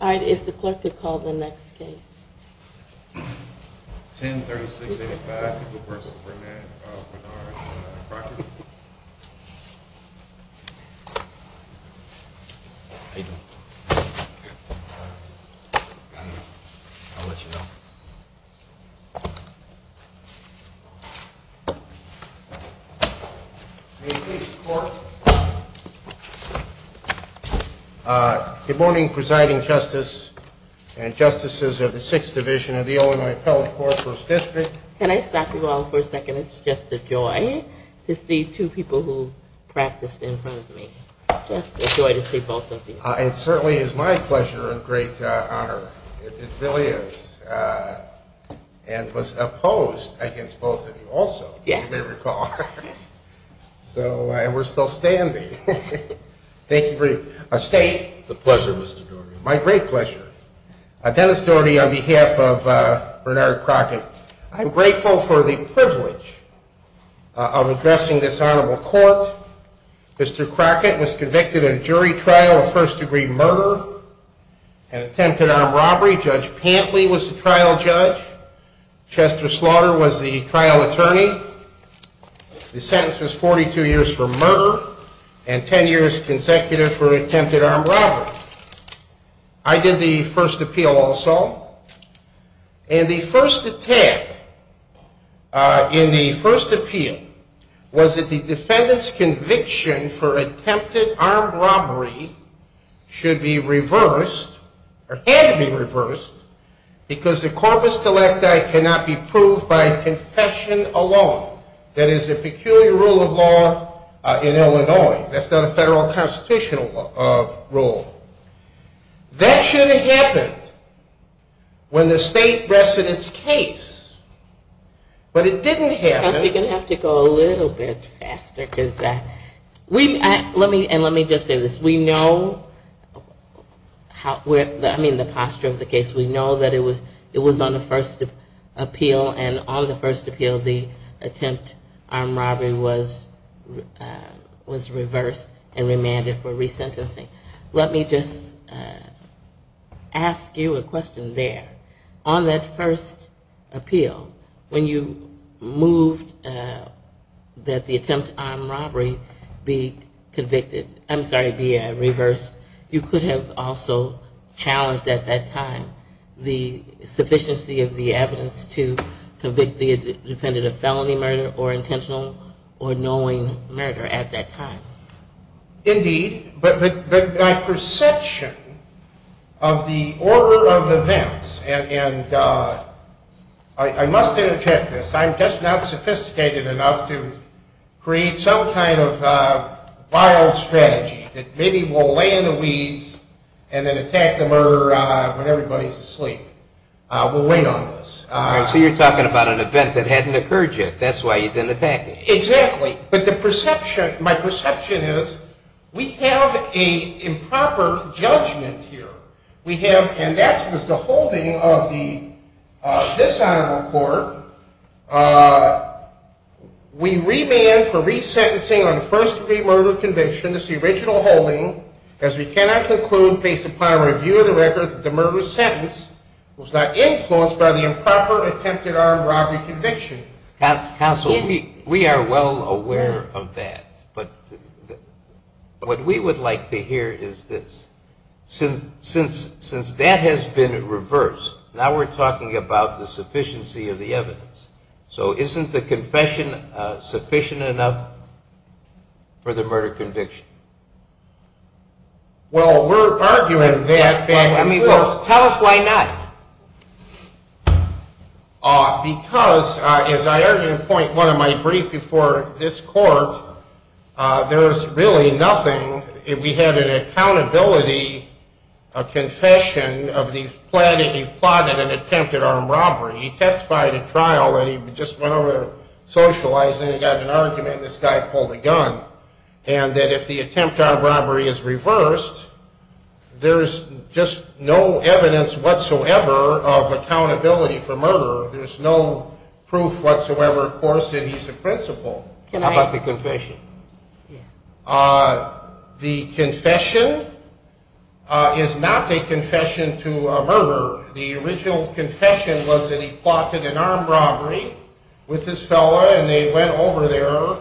All right, if the clerk could call the next case. 1036-85, Superintendent Bernard Crockett. How you doing? I'll let you know. May it please the court. Good morning, Presiding Justice and Justices of the 6th Division of the Illinois Appellate Court, 1st District. Can I stop you all for a second? It's just a joy to see two people who practiced in front of me. Just a joy to see both of you. It certainly is my pleasure and great honor. It really is. And was opposed against both of you also, as you may recall. And we're still standing. Thank you for your state. It's a pleasure, Mr. Doherty. My great pleasure. Dennis Doherty on behalf of Bernard Crockett. I'm grateful for the privilege of addressing this honorable court. Mr. Crockett was convicted in a jury trial of first-degree murder and attempted armed robbery. Judge Pantley was the trial judge. Chester Slaughter was the trial attorney. The sentence was 42 years for murder and 10 years consecutive for attempted armed robbery. I did the first appeal also. And the first attack in the first appeal was that the defendant's conviction for attempted armed robbery should be reversed, or had to be reversed, because the corpus telecti cannot be proved by confession alone. That is a peculiar rule of law in Illinois. That's not a federal constitutional rule. That should have happened when the state rested its case. But it didn't happen. I think we're going to have to go a little bit faster. And let me just say this. We know the posture of the case. We know that it was on the first appeal. And on the first appeal, the attempt armed robbery was reversed and remanded for resentencing. Let me just ask you a question there. On that first appeal, when you moved that the attempt armed robbery be convicted, I'm sorry, be reversed, you could have also challenged at that time the sufficiency of the evidence to convict the defendant of felony murder or intentional or knowing murder at that time. Indeed. But my perception of the order of events, and I must interject this, I'm just not sophisticated enough to create some kind of vile strategy that maybe we'll lay in the weeds and then attack the murderer when everybody's asleep. We'll wait on this. So you're talking about an event that hadn't occurred yet. That's why you didn't attack him. Exactly. But the perception, my perception is we have an improper judgment here. We have, and that was the holding of this Honorable Court. We remand for resentencing on first degree murder conviction, this original holding, as we cannot conclude based upon a review of the records that the murderous sentence was not influenced by the improper attempted armed robbery conviction. Counsel, we are well aware of that. But what we would like to hear is this. Since that has been reversed, now we're talking about the sufficiency of the evidence. So isn't the confession sufficient enough for the murder conviction? Well, we're arguing that. Tell us why not. Because, as I argued in point one of my brief before this court, there is really nothing. We had an accountability confession of the plan that he plotted an attempted armed robbery. He testified at trial, and he just went over there, socialized, and he got an argument, and this guy pulled a gun, and that if the attempted armed robbery is reversed, there's just no evidence whatsoever of accountability for murder. There's no proof whatsoever, of course, that he's a principal. How about the confession? The confession is not a confession to a murderer. The original confession was that he plotted an armed robbery with this fellow, and they went over there.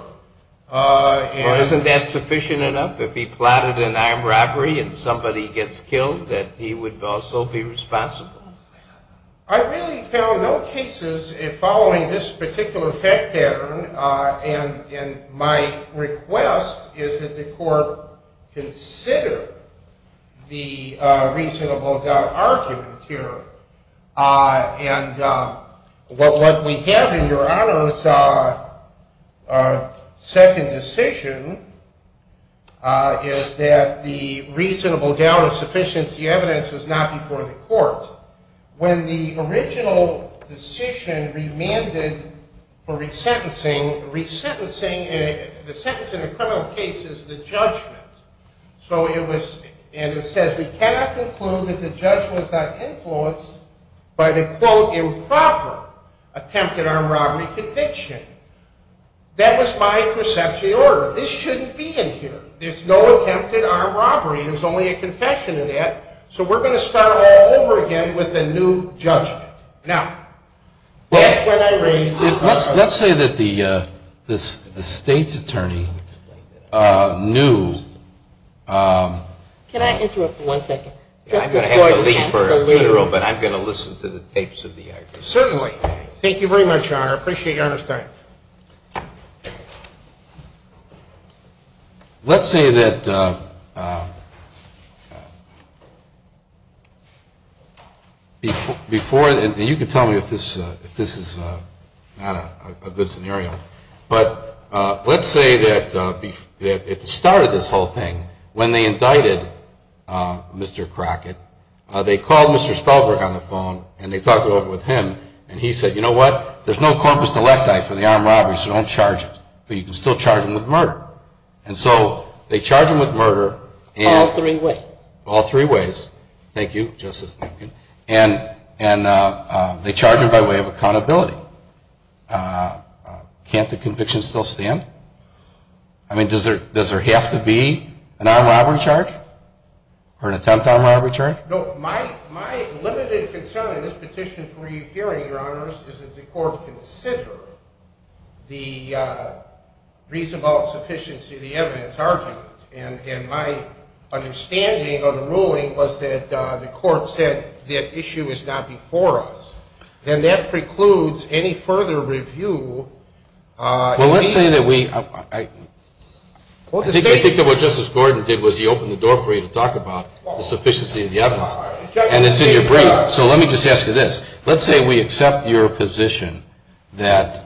Well, isn't that sufficient enough? If he plotted an armed robbery and somebody gets killed, that he would also be responsible? I really found no cases following this particular fact pattern, and my request is that the court consider the reasonable doubt argument here. What we have in Your Honor's second decision is that the reasonable doubt of sufficiency evidence was not before the court. When the original decision remanded for resentencing, the sentence in a criminal case is the judgment. So it was, and it says we cannot conclude that the judge was not influenced by the, quote, improper attempted armed robbery conviction. That was my perception of the order. This shouldn't be in here. There's no attempted armed robbery. It was only a confession of that. So we're going to start all over again with a new judgment. Now, let's say that the state's attorney knew. Can I interrupt for one second? I'm going to have to leave for a minute, but I'm going to listen to the tapes of the argument. Thank you very much, Your Honor. I appreciate Your Honor's time. Let's say that before, and you can tell me if this is not a good scenario, but let's say that it started this whole thing when they indicted Mr. Crockett. They called Mr. Spalberg on the phone, and they talked it over with him, and he said, you know what, there's no corpus delicti for the armed robberies, so don't charge it. But you can still charge them with murder. And so they charge them with murder. All three ways. All three ways. Thank you, Justice Minkin. And they charge them by way of accountability. Can't the conviction still stand? I mean, does there have to be an armed robbery charge or an attempted armed robbery charge? No, my limited concern in this petition for you hearing, Your Honors, is that the court consider the reasonable sufficiency of the evidence argued. And my understanding of the ruling was that the court said the issue is not before us. And that precludes any further review. Well, let's say that we – I think that what Justice Gordon did was he opened the door for you to talk about the sufficiency of the evidence. And it's in your brief. So let me just ask you this. Let's say we accept your position that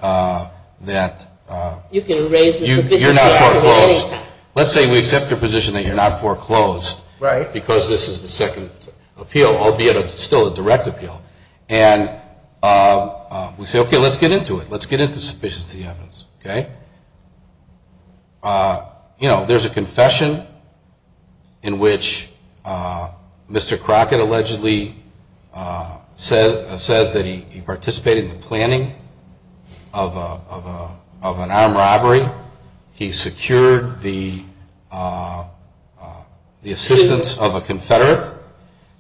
you're not foreclosed. Let's say we accept your position that you're not foreclosed because this is the second appeal, albeit still a direct appeal. And we say, okay, let's get into it. Let's get into the sufficiency of the evidence, okay? You know, there's a confession in which Mr. Crockett allegedly says that he participated in the planning of an armed robbery. He secured the assistance of a confederate.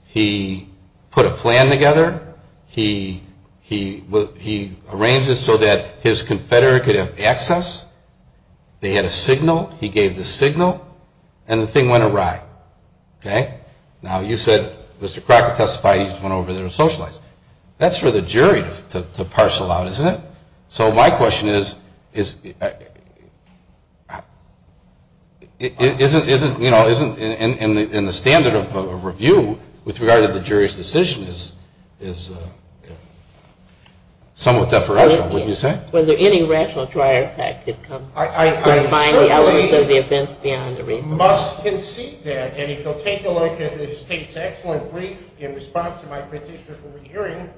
He put a plan together. He arranged it so that his confederate could have access. They had a signal. He gave the signal. And the thing went awry, okay? Now, you said Mr. Crockett testified he just went over there and socialized. That's for the jury to parcel out, isn't it? So my question is, isn't, you know, isn't in the standard of review with regard to the jury's decision is somewhat deferential. Wouldn't you say? Was there any rational trier effect that could combine the elements of the offense beyond the reason? I certainly must concede that. And if you'll take a look at the state's excellent brief in response to my petition for re-hearing,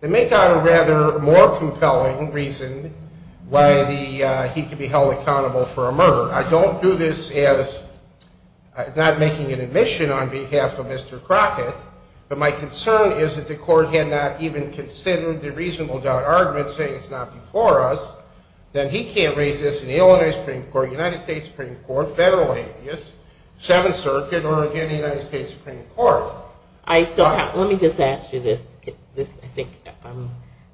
they make out a rather more compelling reason why he could be held accountable for a murder. I don't do this as not making an admission on behalf of Mr. Crockett, but my concern is that the court had not even considered the reasonable doubt argument saying it's not before us, then he can't raise this in the Illinois Supreme Court, United States Supreme Court, federal habeas, Seventh Circuit, or, again, the United States Supreme Court. So let me just ask you this.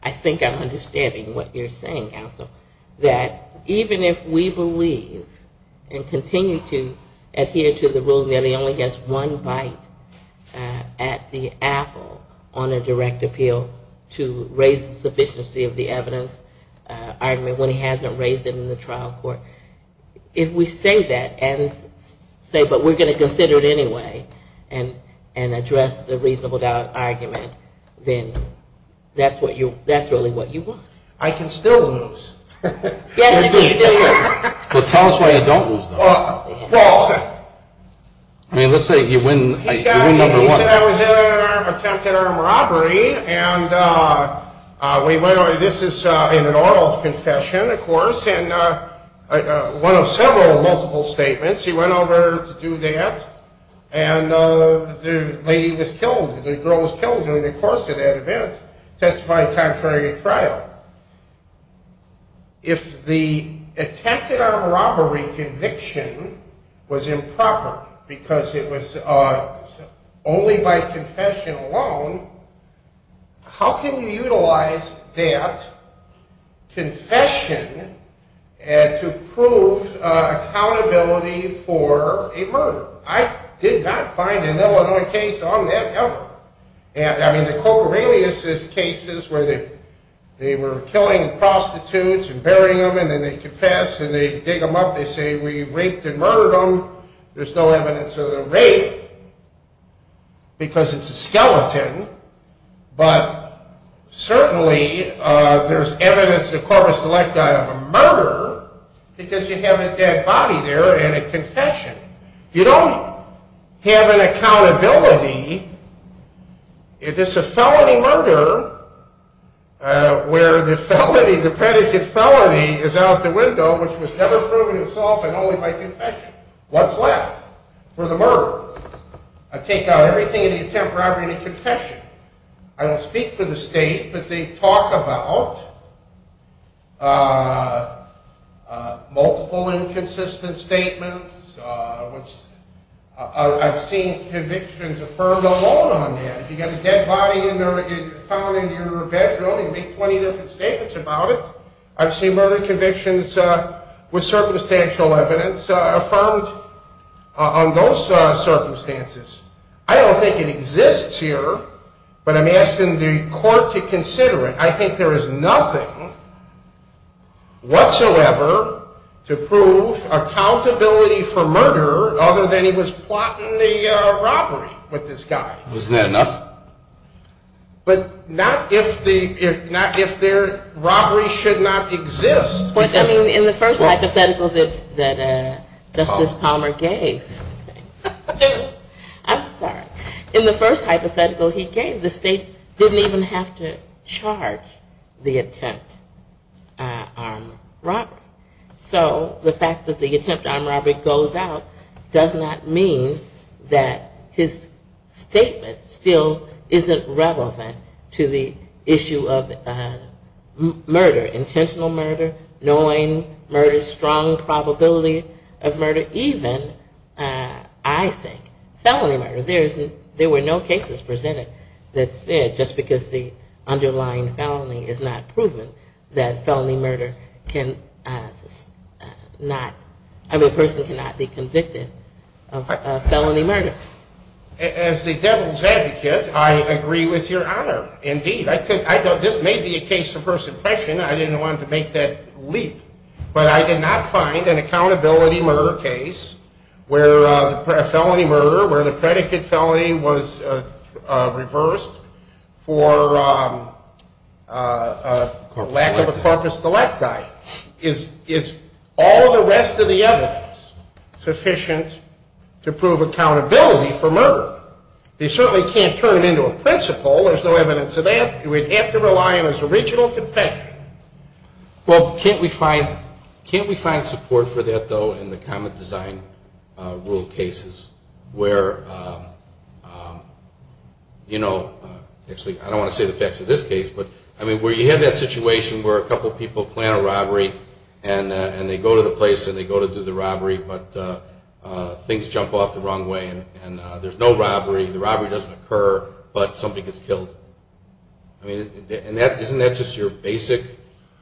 I think I'm understanding what you're saying, counsel, that even if we believe and continue to adhere to the rule that he only gets one bite at the apple on a direct appeal to raise the sufficiency of the evidence argument when he hasn't raised it in the trial court, if we say that and say, but we're going to consider it anyway and address the reasonable doubt argument, then that's really what you want. I can still lose. Yes, you can still lose. Well, tell us why you don't lose, then. Well... I mean, let's say you win number one. He said I was in an attempted armed robbery, and this is in an oral confession, of course, one of several multiple statements. He went over to do that, and the lady was killed, the girl was killed during the course of that event, testifying contrary to trial. If the attempted armed robbery conviction was improper because it was only by confession alone, how can you utilize that confession to prove accountability for a murder? I did not find an Illinois case on that ever. I mean, the Cocorelius cases where they were killing prostitutes and burying them, and then they confess, and they dig them up, they say, we raped and murdered them, there's no evidence of the rape because it's a skeleton, but certainly there's evidence of corpus electi of a murder because you have a dead body there and a confession. You don't have an accountability if it's a felony murder where the felony, the predicate felony is out the window, which was never proven itself and only by confession. What's left for the murderer? I take out everything in the attempted robbery and the confession. I don't speak for the state, but they talk about multiple inconsistent statements, which I've seen convictions affirmed alone on that. If you've got a dead body found in your bedroom, you make 20 different statements about it. I've seen murder convictions with circumstantial evidence affirmed on those circumstances. I don't think it exists here, but I'm asking the court to consider it. I think there is nothing whatsoever to prove accountability for murder other than he was plotting the robbery with this guy. Isn't that enough? But not if the robbery should not exist. In the first hypothetical that Justice Palmer gave, I'm sorry, in the first hypothetical he gave, the state didn't even have to charge the attempt armed robbery. So the fact that the attempt armed robbery goes out does not mean that his statement still isn't relevant to the issue of murder, intentional murder, knowing murder, strong probability of murder, even I think felony murder. There were no cases presented that said just because the underlying felony is not proven that a person cannot be convicted of felony murder. As the devil's advocate, I agree with your honor, indeed. This may be a case of first impression. I didn't want to make that leap, but I did not find an accountability murder case where a felony murder, where the predicate felony was reversed for lack of a corpus delicti. Is all the rest of the evidence sufficient to prove accountability for murder? They certainly can't turn it into a principle. There's no evidence of that. We'd have to rely on his original confession. Well, can't we find support for that, though, in the common design rule cases where, you know, actually I don't want to say the facts of this case, but where you have that situation where a couple people plan a robbery and they go to the place and they go to do the robbery, but things jump off the wrong way and there's no robbery, the robbery doesn't occur, but somebody gets killed. I mean, isn't that just your basic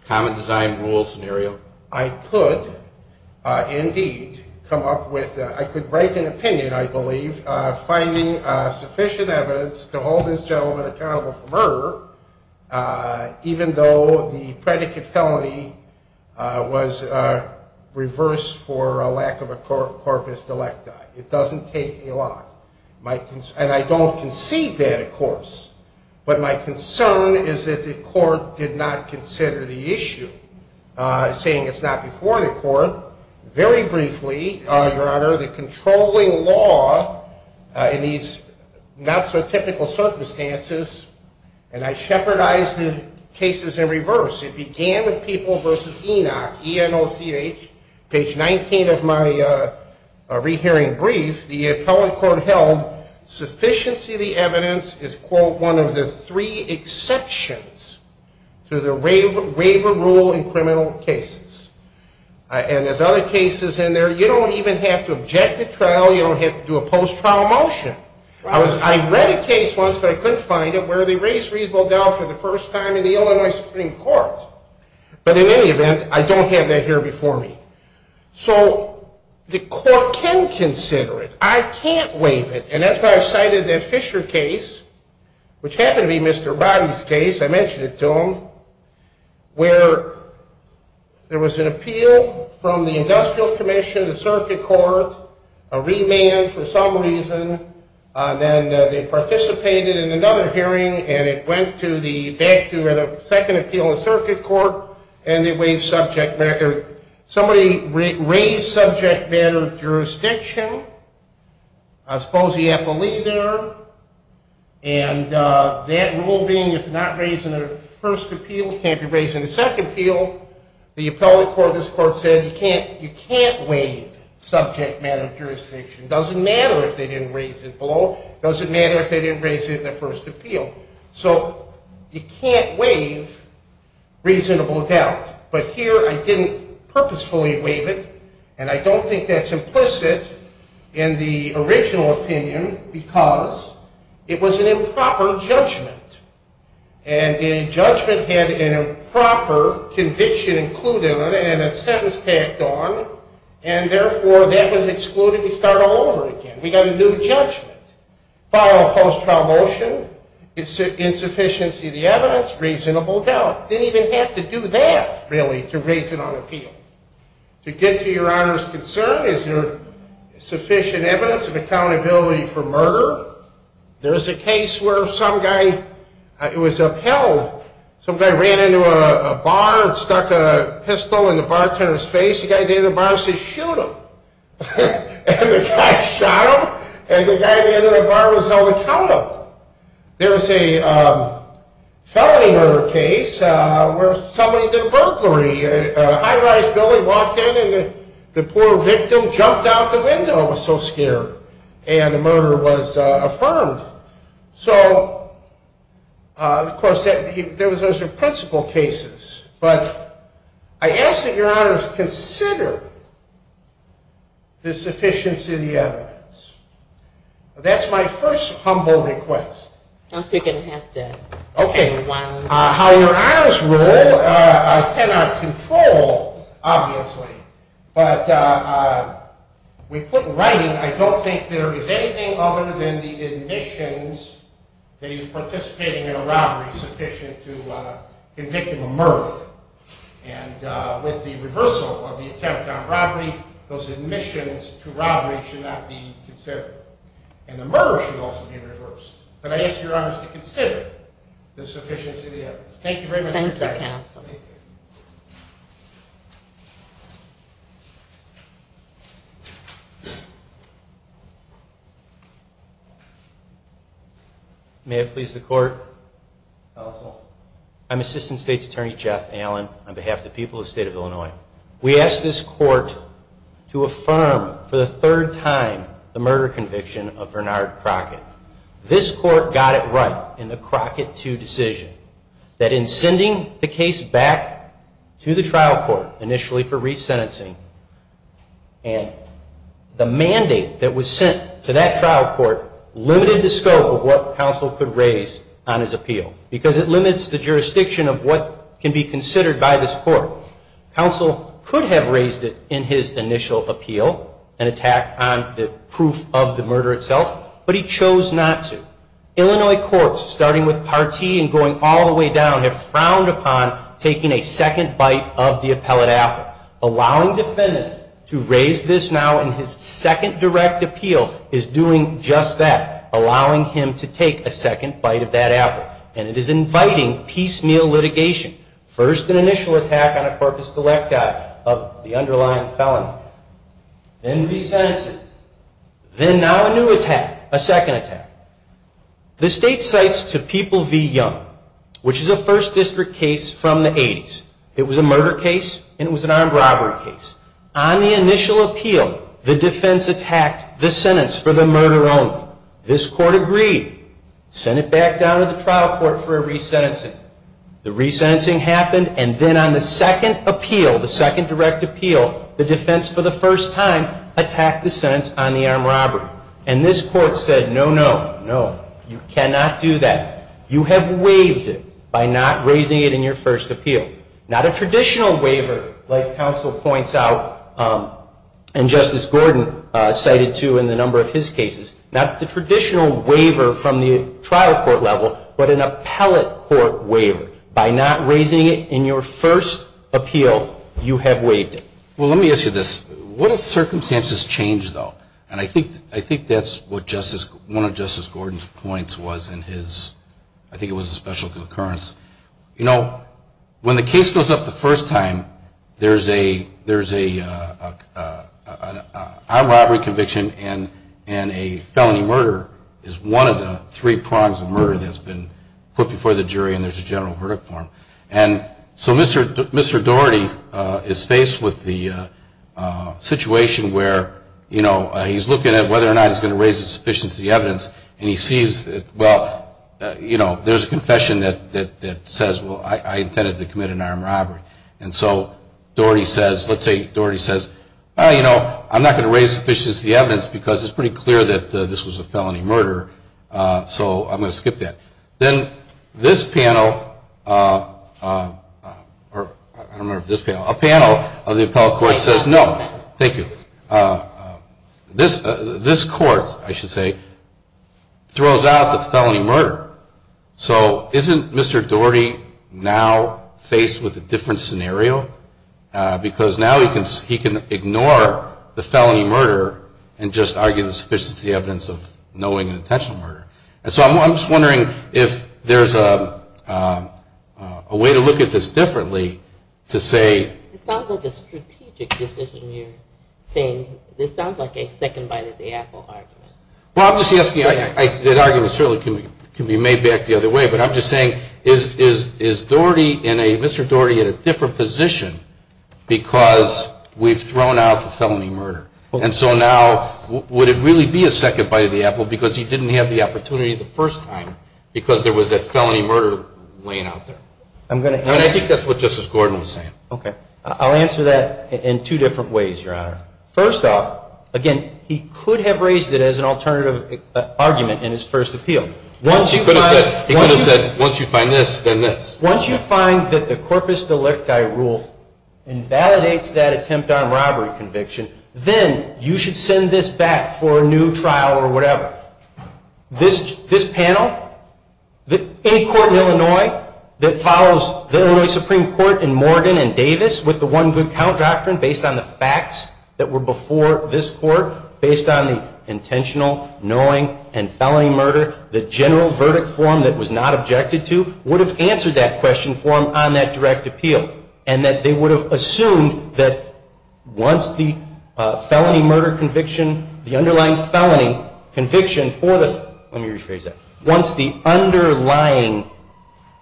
common design rule scenario? I could, indeed, come up with, I could write an opinion, I believe, finding sufficient evidence to hold this gentleman accountable for murder, even though the predicate felony was reversed for a lack of a corpus delicti. It doesn't take a lot. And I don't concede that, of course. But my concern is that the court did not consider the issue, saying it's not before the court. Very briefly, Your Honor, the controlling law in these not-so-typical circumstances, and I shepherdized the cases in reverse. It began with people versus ENOC, E-N-O-C-H. Page 19 of my rehearing brief, the appellate court held, sufficiency of the evidence is, quote, one of the three exceptions to the waiver rule in criminal cases. And there's other cases in there. You don't even have to object to trial. You don't have to do a post-trial motion. I read a case once, but I couldn't find it, where they raised reasonable doubt for the first time in the Illinois Supreme Court. But in any event, I don't have that here before me. So the court can consider it. I can't waive it. And that's why I cited that Fisher case, which happened to be Mr. Roddy's case. I mentioned it to him, where there was an appeal from the industrial commission, the circuit court, a remand for some reason. Then they participated in another hearing, and it went back to a second appeal in circuit court, and they waived subject matter. Somebody raised subject matter of jurisdiction. I suppose he had to leave there. And that rule being, if not raised in the first appeal, can't be raised in the second appeal. The appellate court, this court, said, you can't waive subject matter of jurisdiction. It doesn't matter if they didn't raise it below. It doesn't matter if they didn't raise it in the first appeal. So you can't waive reasonable doubt. But here I didn't purposefully waive it. And I don't think that's implicit in the original opinion, because it was an improper judgment. And a judgment had an improper conviction included in it and a sentence tacked on. And therefore, that was excluded. We start all over again. We got a new judgment. Filed a post-trial motion. Insufficiency of the evidence. Reasonable doubt. Didn't even have to do that, really, to raise it on appeal. To get to Your Honor's concern, is there sufficient evidence of accountability for murder? There is a case where some guy was upheld. Some guy ran into a bar and stuck a pistol in the bartender's face. The guy at the end of the bar said, shoot him. And the guy shot him. And the guy at the end of the bar was held accountable. There was a felony murder case where somebody did burglary. A high-rise building walked in and the poor victim jumped out the window and was so scared. And the murder was affirmed. So, of course, those are principal cases. But I ask that Your Honors consider the sufficiency of the evidence. That's my first humble request. I'm speaking half-deaf. Okay. How Your Honors rule, I cannot control, obviously. But we put in writing, I don't think there is anything other than the admissions that he's participating in a robbery sufficient to convict him of murder. And with the reversal of the attempt on robbery, those admissions to robbery should not be considered. And the murder should also be reversed. But I ask Your Honors to consider the sufficiency of the evidence. Thank you very much for your time. Thank you, Counsel. May it please the Court. Counsel. I'm Assistant State's Attorney Jeff Allen on behalf of the people of the State of Illinois. We ask this Court to affirm for the third time the murder conviction of Bernard Crockett. This Court got it right in the Crockett II decision that in sending the case back to the trial court initially for resentencing, and the mandate that was sent to that trial court limited the scope of what counsel could raise on his appeal. Because it limits the jurisdiction of what can be considered by this Court. Counsel could have raised it in his initial appeal, an attack on the proof of the murder itself. But he chose not to. Illinois courts, starting with Partee and going all the way down, have frowned upon taking a second bite of the appellate apple. Allowing defendant to raise this now in his second direct appeal is doing just that. Allowing him to take a second bite of that apple. And it is inviting piecemeal litigation. First an initial attack on a corpus delicti of the underlying felony. Then resentencing. Then now a new attack, a second attack. The State cites to People v. Young, which is a First District case from the 80s. It was a murder case and it was an armed robbery case. On the initial appeal, the defense attacked the sentence for the murder only. This Court agreed. Sent it back down to the trial court for a resentencing. The resentencing happened and then on the second appeal, the second direct appeal, the defense for the first time attacked the sentence on the armed robbery. And this Court said, no, no, no. You cannot do that. You have waived it by not raising it in your first appeal. Not a traditional waiver like counsel points out and Justice Gordon cited to in the number of his cases. Not the traditional waiver from the trial court level, but an appellate court waiver. By not raising it in your first appeal, you have waived it. Well, let me ask you this. What if circumstances change, though? And I think that's what one of Justice Gordon's points was in his, I think it was a special concurrence. You know, when the case goes up the first time, there's a armed robbery conviction and a felony murder is one of the three prongs of murder that's been put before the jury and there's a general verdict for them. And so Mr. Daugherty is faced with the situation where, you know, he's looking at whether or not he's going to raise the sufficiency of the evidence and he sees that, well, you know, there's a confession that says, well, I intended to commit an armed robbery. And so Daugherty says, let's say Daugherty says, well, you know, I'm not going to raise the sufficiency of the evidence because it's pretty clear that this was a felony murder, so I'm going to skip that. Then this panel, or I don't remember if this panel, a panel of the appellate court says no. Thank you. This court, I should say, throws out the felony murder. So isn't Mr. Daugherty now faced with a different scenario? Because now he can ignore the felony murder and just argue the sufficiency of the evidence of knowing an intentional murder. And so I'm just wondering if there's a way to look at this differently to say. It sounds like a strategic decision you're saying. It sounds like a second bite at the apple argument. Well, I'm just asking. That argument certainly can be made back the other way. But I'm just saying, is Daugherty, Mr. Daugherty, in a different position because we've thrown out the felony murder? And so now would it really be a second bite at the apple because he didn't have the opportunity the first time because there was that felony murder laying out there? And I think that's what Justice Gordon was saying. Okay. I'll answer that in two different ways, Your Honor. First off, again, he could have raised it as an alternative argument in his first appeal. He could have said, once you find this, then this. Once you find that the corpus delicti rule invalidates that attempt on robbery conviction, then you should send this back for a new trial or whatever. This panel, any court in Illinois that follows the Illinois Supreme Court in Morgan and Davis with the one good count doctrine based on the facts that were before this court, based on the intentional knowing and felony murder, the general verdict form that was not objected to, would have answered that question form on that direct appeal. And that they would have assumed that once the felony murder conviction, the underlying felony conviction for the, let me rephrase that, once the underlying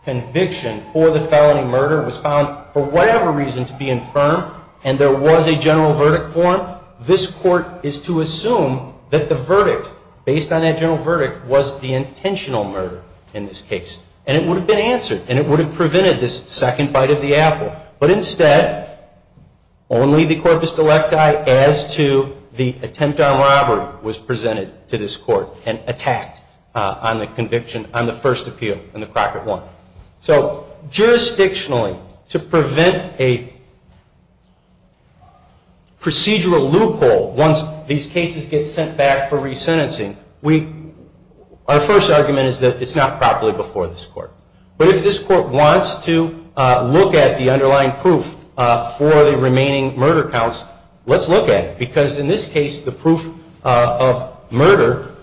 conviction for the felony murder was found for whatever reason to be infirm and there was a general verdict form, this court is to assume that the verdict, based on that general verdict, was the intentional murder in this case. And it would have been answered. And it would have prevented this second bite of the apple. But instead, only the corpus delicti as to the attempt on robbery was presented to this court and attacked on the conviction, on the first appeal in the Crockett one. So jurisdictionally, to prevent a procedural loophole once these cases get sent back for resentencing, our first argument is that it's not properly before this court. But if this court wants to look at the underlying proof for the remaining murder counts, let's look at it. Because in this case, the proof of murder,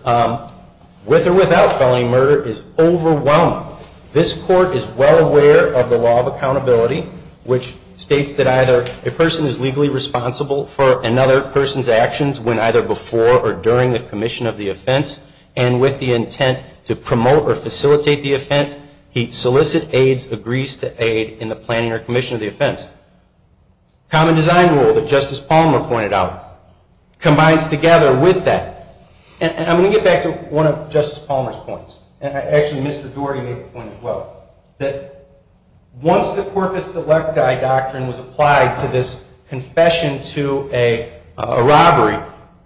with or without felony murder, is overwhelming. This court is well aware of the law of accountability, which states that either a person is legally responsible for another person's actions when either before or during the commission of the offense, and with the intent to promote or facilitate the offense, he solicits aides, agrees to aid in the planning or commission of the offense. Common design rule that Justice Palmer pointed out combines together with that. And I'm going to get back to one of Justice Palmer's points. Actually, Mr. Doherty made the point as well, that once the corpus delecti doctrine was applied to this confession to a robbery,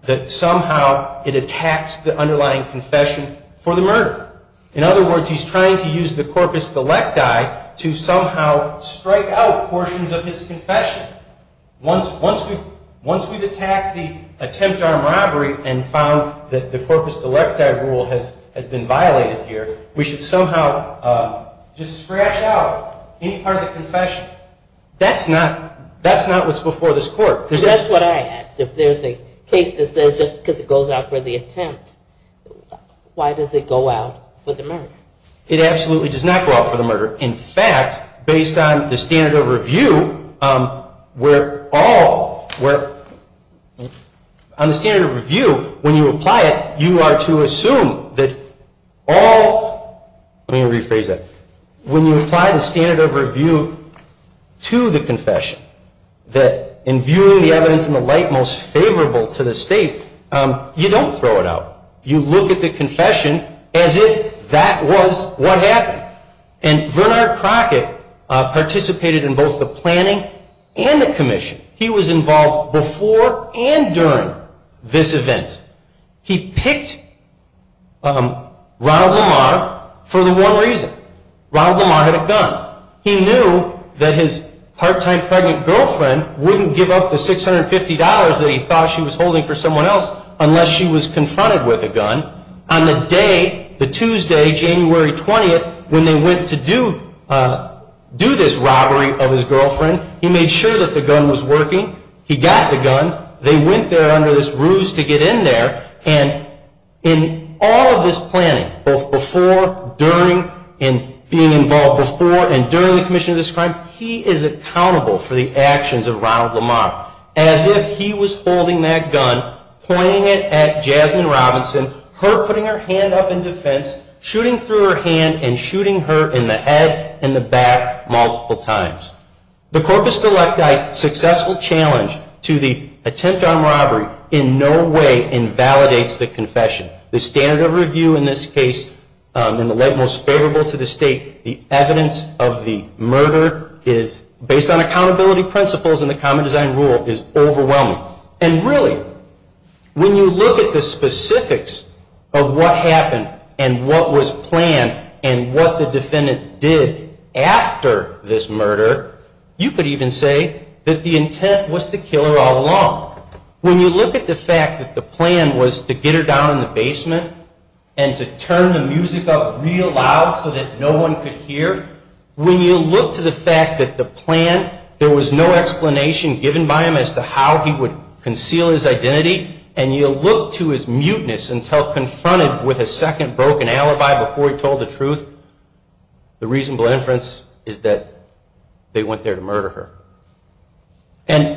that somehow it attacks the underlying confession for the murder. In other words, he's trying to use the corpus delecti to somehow strike out portions of his confession. Once we've attacked the attempt armed robbery and found that the corpus delecti rule has been violated here, we should somehow just scratch out any part of the confession. That's not what's before this court. That's what I asked. If there's a case that says just because it goes out for the attempt, why does it go out for the murder? It absolutely does not go out for the murder. In fact, based on the standard of review, where all, where on the standard of review, when you apply it, you are to assume that all, let me rephrase that, when you apply the standard of review to the confession, that in viewing the evidence in the light most favorable to the state, you don't throw it out. You look at the confession as if that was what happened. And Bernard Crockett participated in both the planning and the commission. He was involved before and during this event. He picked Ronald Lamar for the one reason. Ronald Lamar had a gun. He knew that his part-time pregnant girlfriend wouldn't give up the $650 that he thought she was holding for someone else unless she was confronted with a gun. On the day, the Tuesday, January 20th, when they went to do this robbery of his girlfriend, he made sure that the gun was working. He got the gun. They went there under this ruse to get in there. And in all of this planning, both before, during, and being involved before and during the commission of this crime, he is accountable for the actions of Ronald Lamar, as if he was holding that gun, pointing it at Jasmine Robinson, her putting her hand up in defense, shooting through her hand, and shooting her in the head and the back multiple times. The corpus delicti, successful challenge to the attempt on robbery, in no way invalidates the confession. The standard of review in this case, in the light most favorable to the state, the evidence of the murder is based on accountability principles, and the common design rule is overwhelming. And really, when you look at the specifics of what happened and what was planned and what the defendant did after this murder, you could even say that the intent was to kill her all along. When you look at the fact that the plan was to get her down in the basement and to turn the music up real loud so that no one could hear, when you look to the fact that the plan, there was no explanation given by him as to how he would conceal his identity, and you look to his mutinous until confronted with a second broken alibi before he told the truth, the reasonable inference is that they went there to murder her. Tell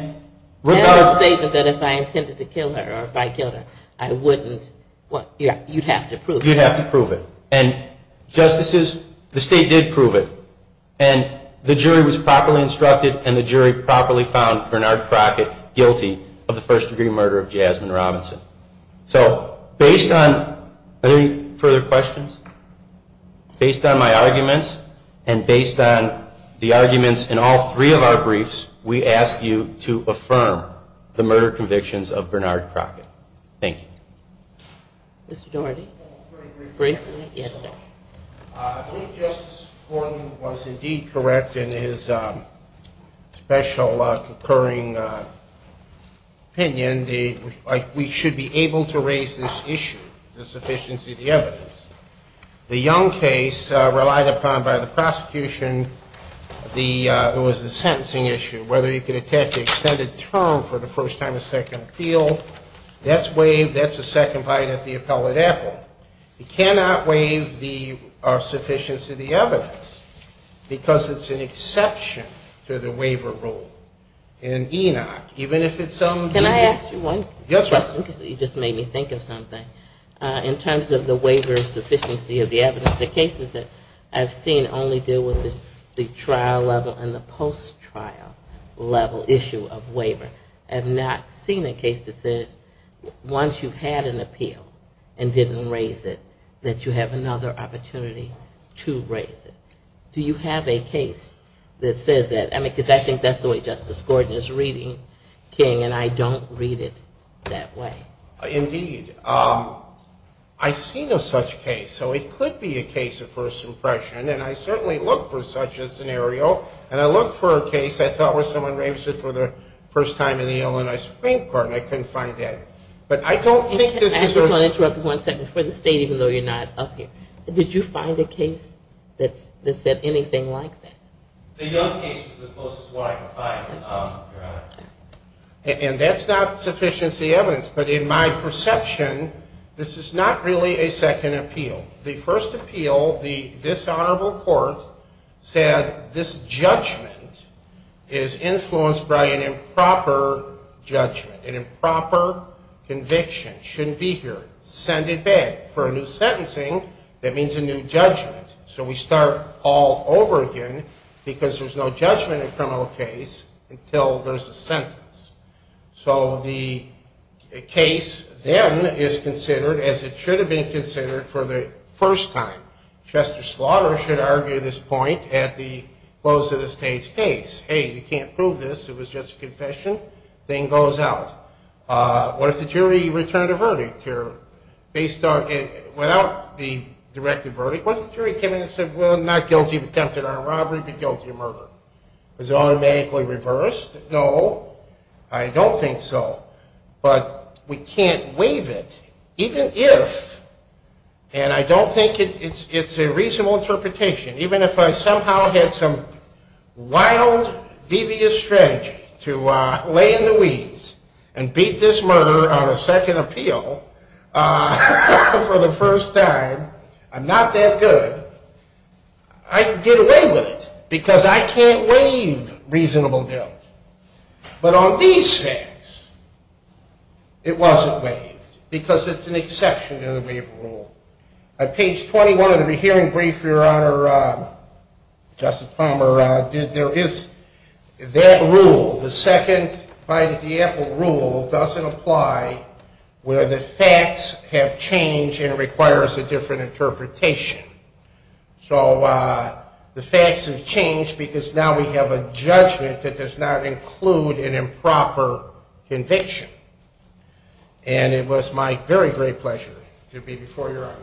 the statement that if I intended to kill her or if I killed her, I wouldn't. You'd have to prove it. You'd have to prove it. And justices, the state did prove it, and the jury was properly instructed and the jury properly found Bernard Crockett guilty of the first-degree murder of Jasmine Robinson. So based on, are there any further questions? Based on my arguments and based on the arguments in all three of our briefs, we ask you to affirm the murder convictions of Bernard Crockett. Thank you. Mr. Doherty. Briefly? Yes, sir. I think Justice Gordon was indeed correct in his special concurring opinion. We should be able to raise this issue, the sufficiency of the evidence. The Young case, relied upon by the prosecution, it was a sentencing issue. Whether you could attach an extended term for the first time or second appeal, that's waived, that's a second bite at the appellate apple. You cannot waive the sufficiency of the evidence because it's an exception to the waiver rule. In ENOC, even if it's something that's- Can I ask you one question? Yes, ma'am. Because you just made me think of something. In terms of the waiver of sufficiency of the evidence, the cases that I've seen only deal with the trial level and the post-trial level issue of waiver. I have not seen a case that says once you've had an appeal and didn't raise it, that you have another opportunity to raise it. Do you have a case that says that? Because I think that's the way Justice Gordon is reading, King, and I don't read it that way. Indeed. I've seen a such case. So it could be a case of first impression, and I certainly look for such a scenario. And I look for a case I thought was someone raised it for the first time in the Illinois Supreme Court, and I couldn't find that. But I don't think this is a- I just want to interrupt for one second. For the State, even though you're not up here, did you find a case that said anything like that? The Young case was the closest one I could find, Your Honor. And that's not sufficiency evidence. But in my perception, this is not really a second appeal. The first appeal, this honorable court said this judgment is influenced by an improper judgment, an improper conviction. It shouldn't be here. Send it back. For a new sentencing, that means a new judgment. So we start all over again because there's no judgment in a criminal case until there's a sentence. So the case then is considered as it should have been considered for the first time. Chester Slaughter should argue this point at the close of the State's case. Hey, you can't prove this. It was just a confession. Thing goes out. What if the jury returned a verdict here? Based on- without the directed verdict, what if the jury came in and said, well, not guilty of attempted armed robbery, but guilty of murder? Is it automatically reversed? No, I don't think so. But we can't waive it even if, and I don't think it's a reasonable interpretation, even if I somehow had some wild, devious strategy to lay in the weeds and beat this murderer on a second appeal for the first time, I'm not that good, I'd get away with it because I can't waive reasonable guilt. But on these facts, it wasn't waived because it's an exception to the waiver rule. On page 21 of the hearing brief, Your Honor, Justice Palmer did, there is that rule, the second by the D'Apple rule doesn't apply where the facts have changed and it requires a different interpretation. So the facts have changed because now we have a judgment that does not include an improper conviction. And it was my very great pleasure to be before Your Honor.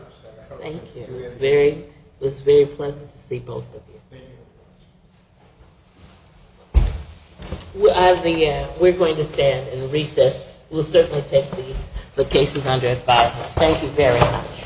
Thank you. It was very pleasant to see both of you. We're going to stand and recess. We'll certainly take the cases under advisement. Thank you very much.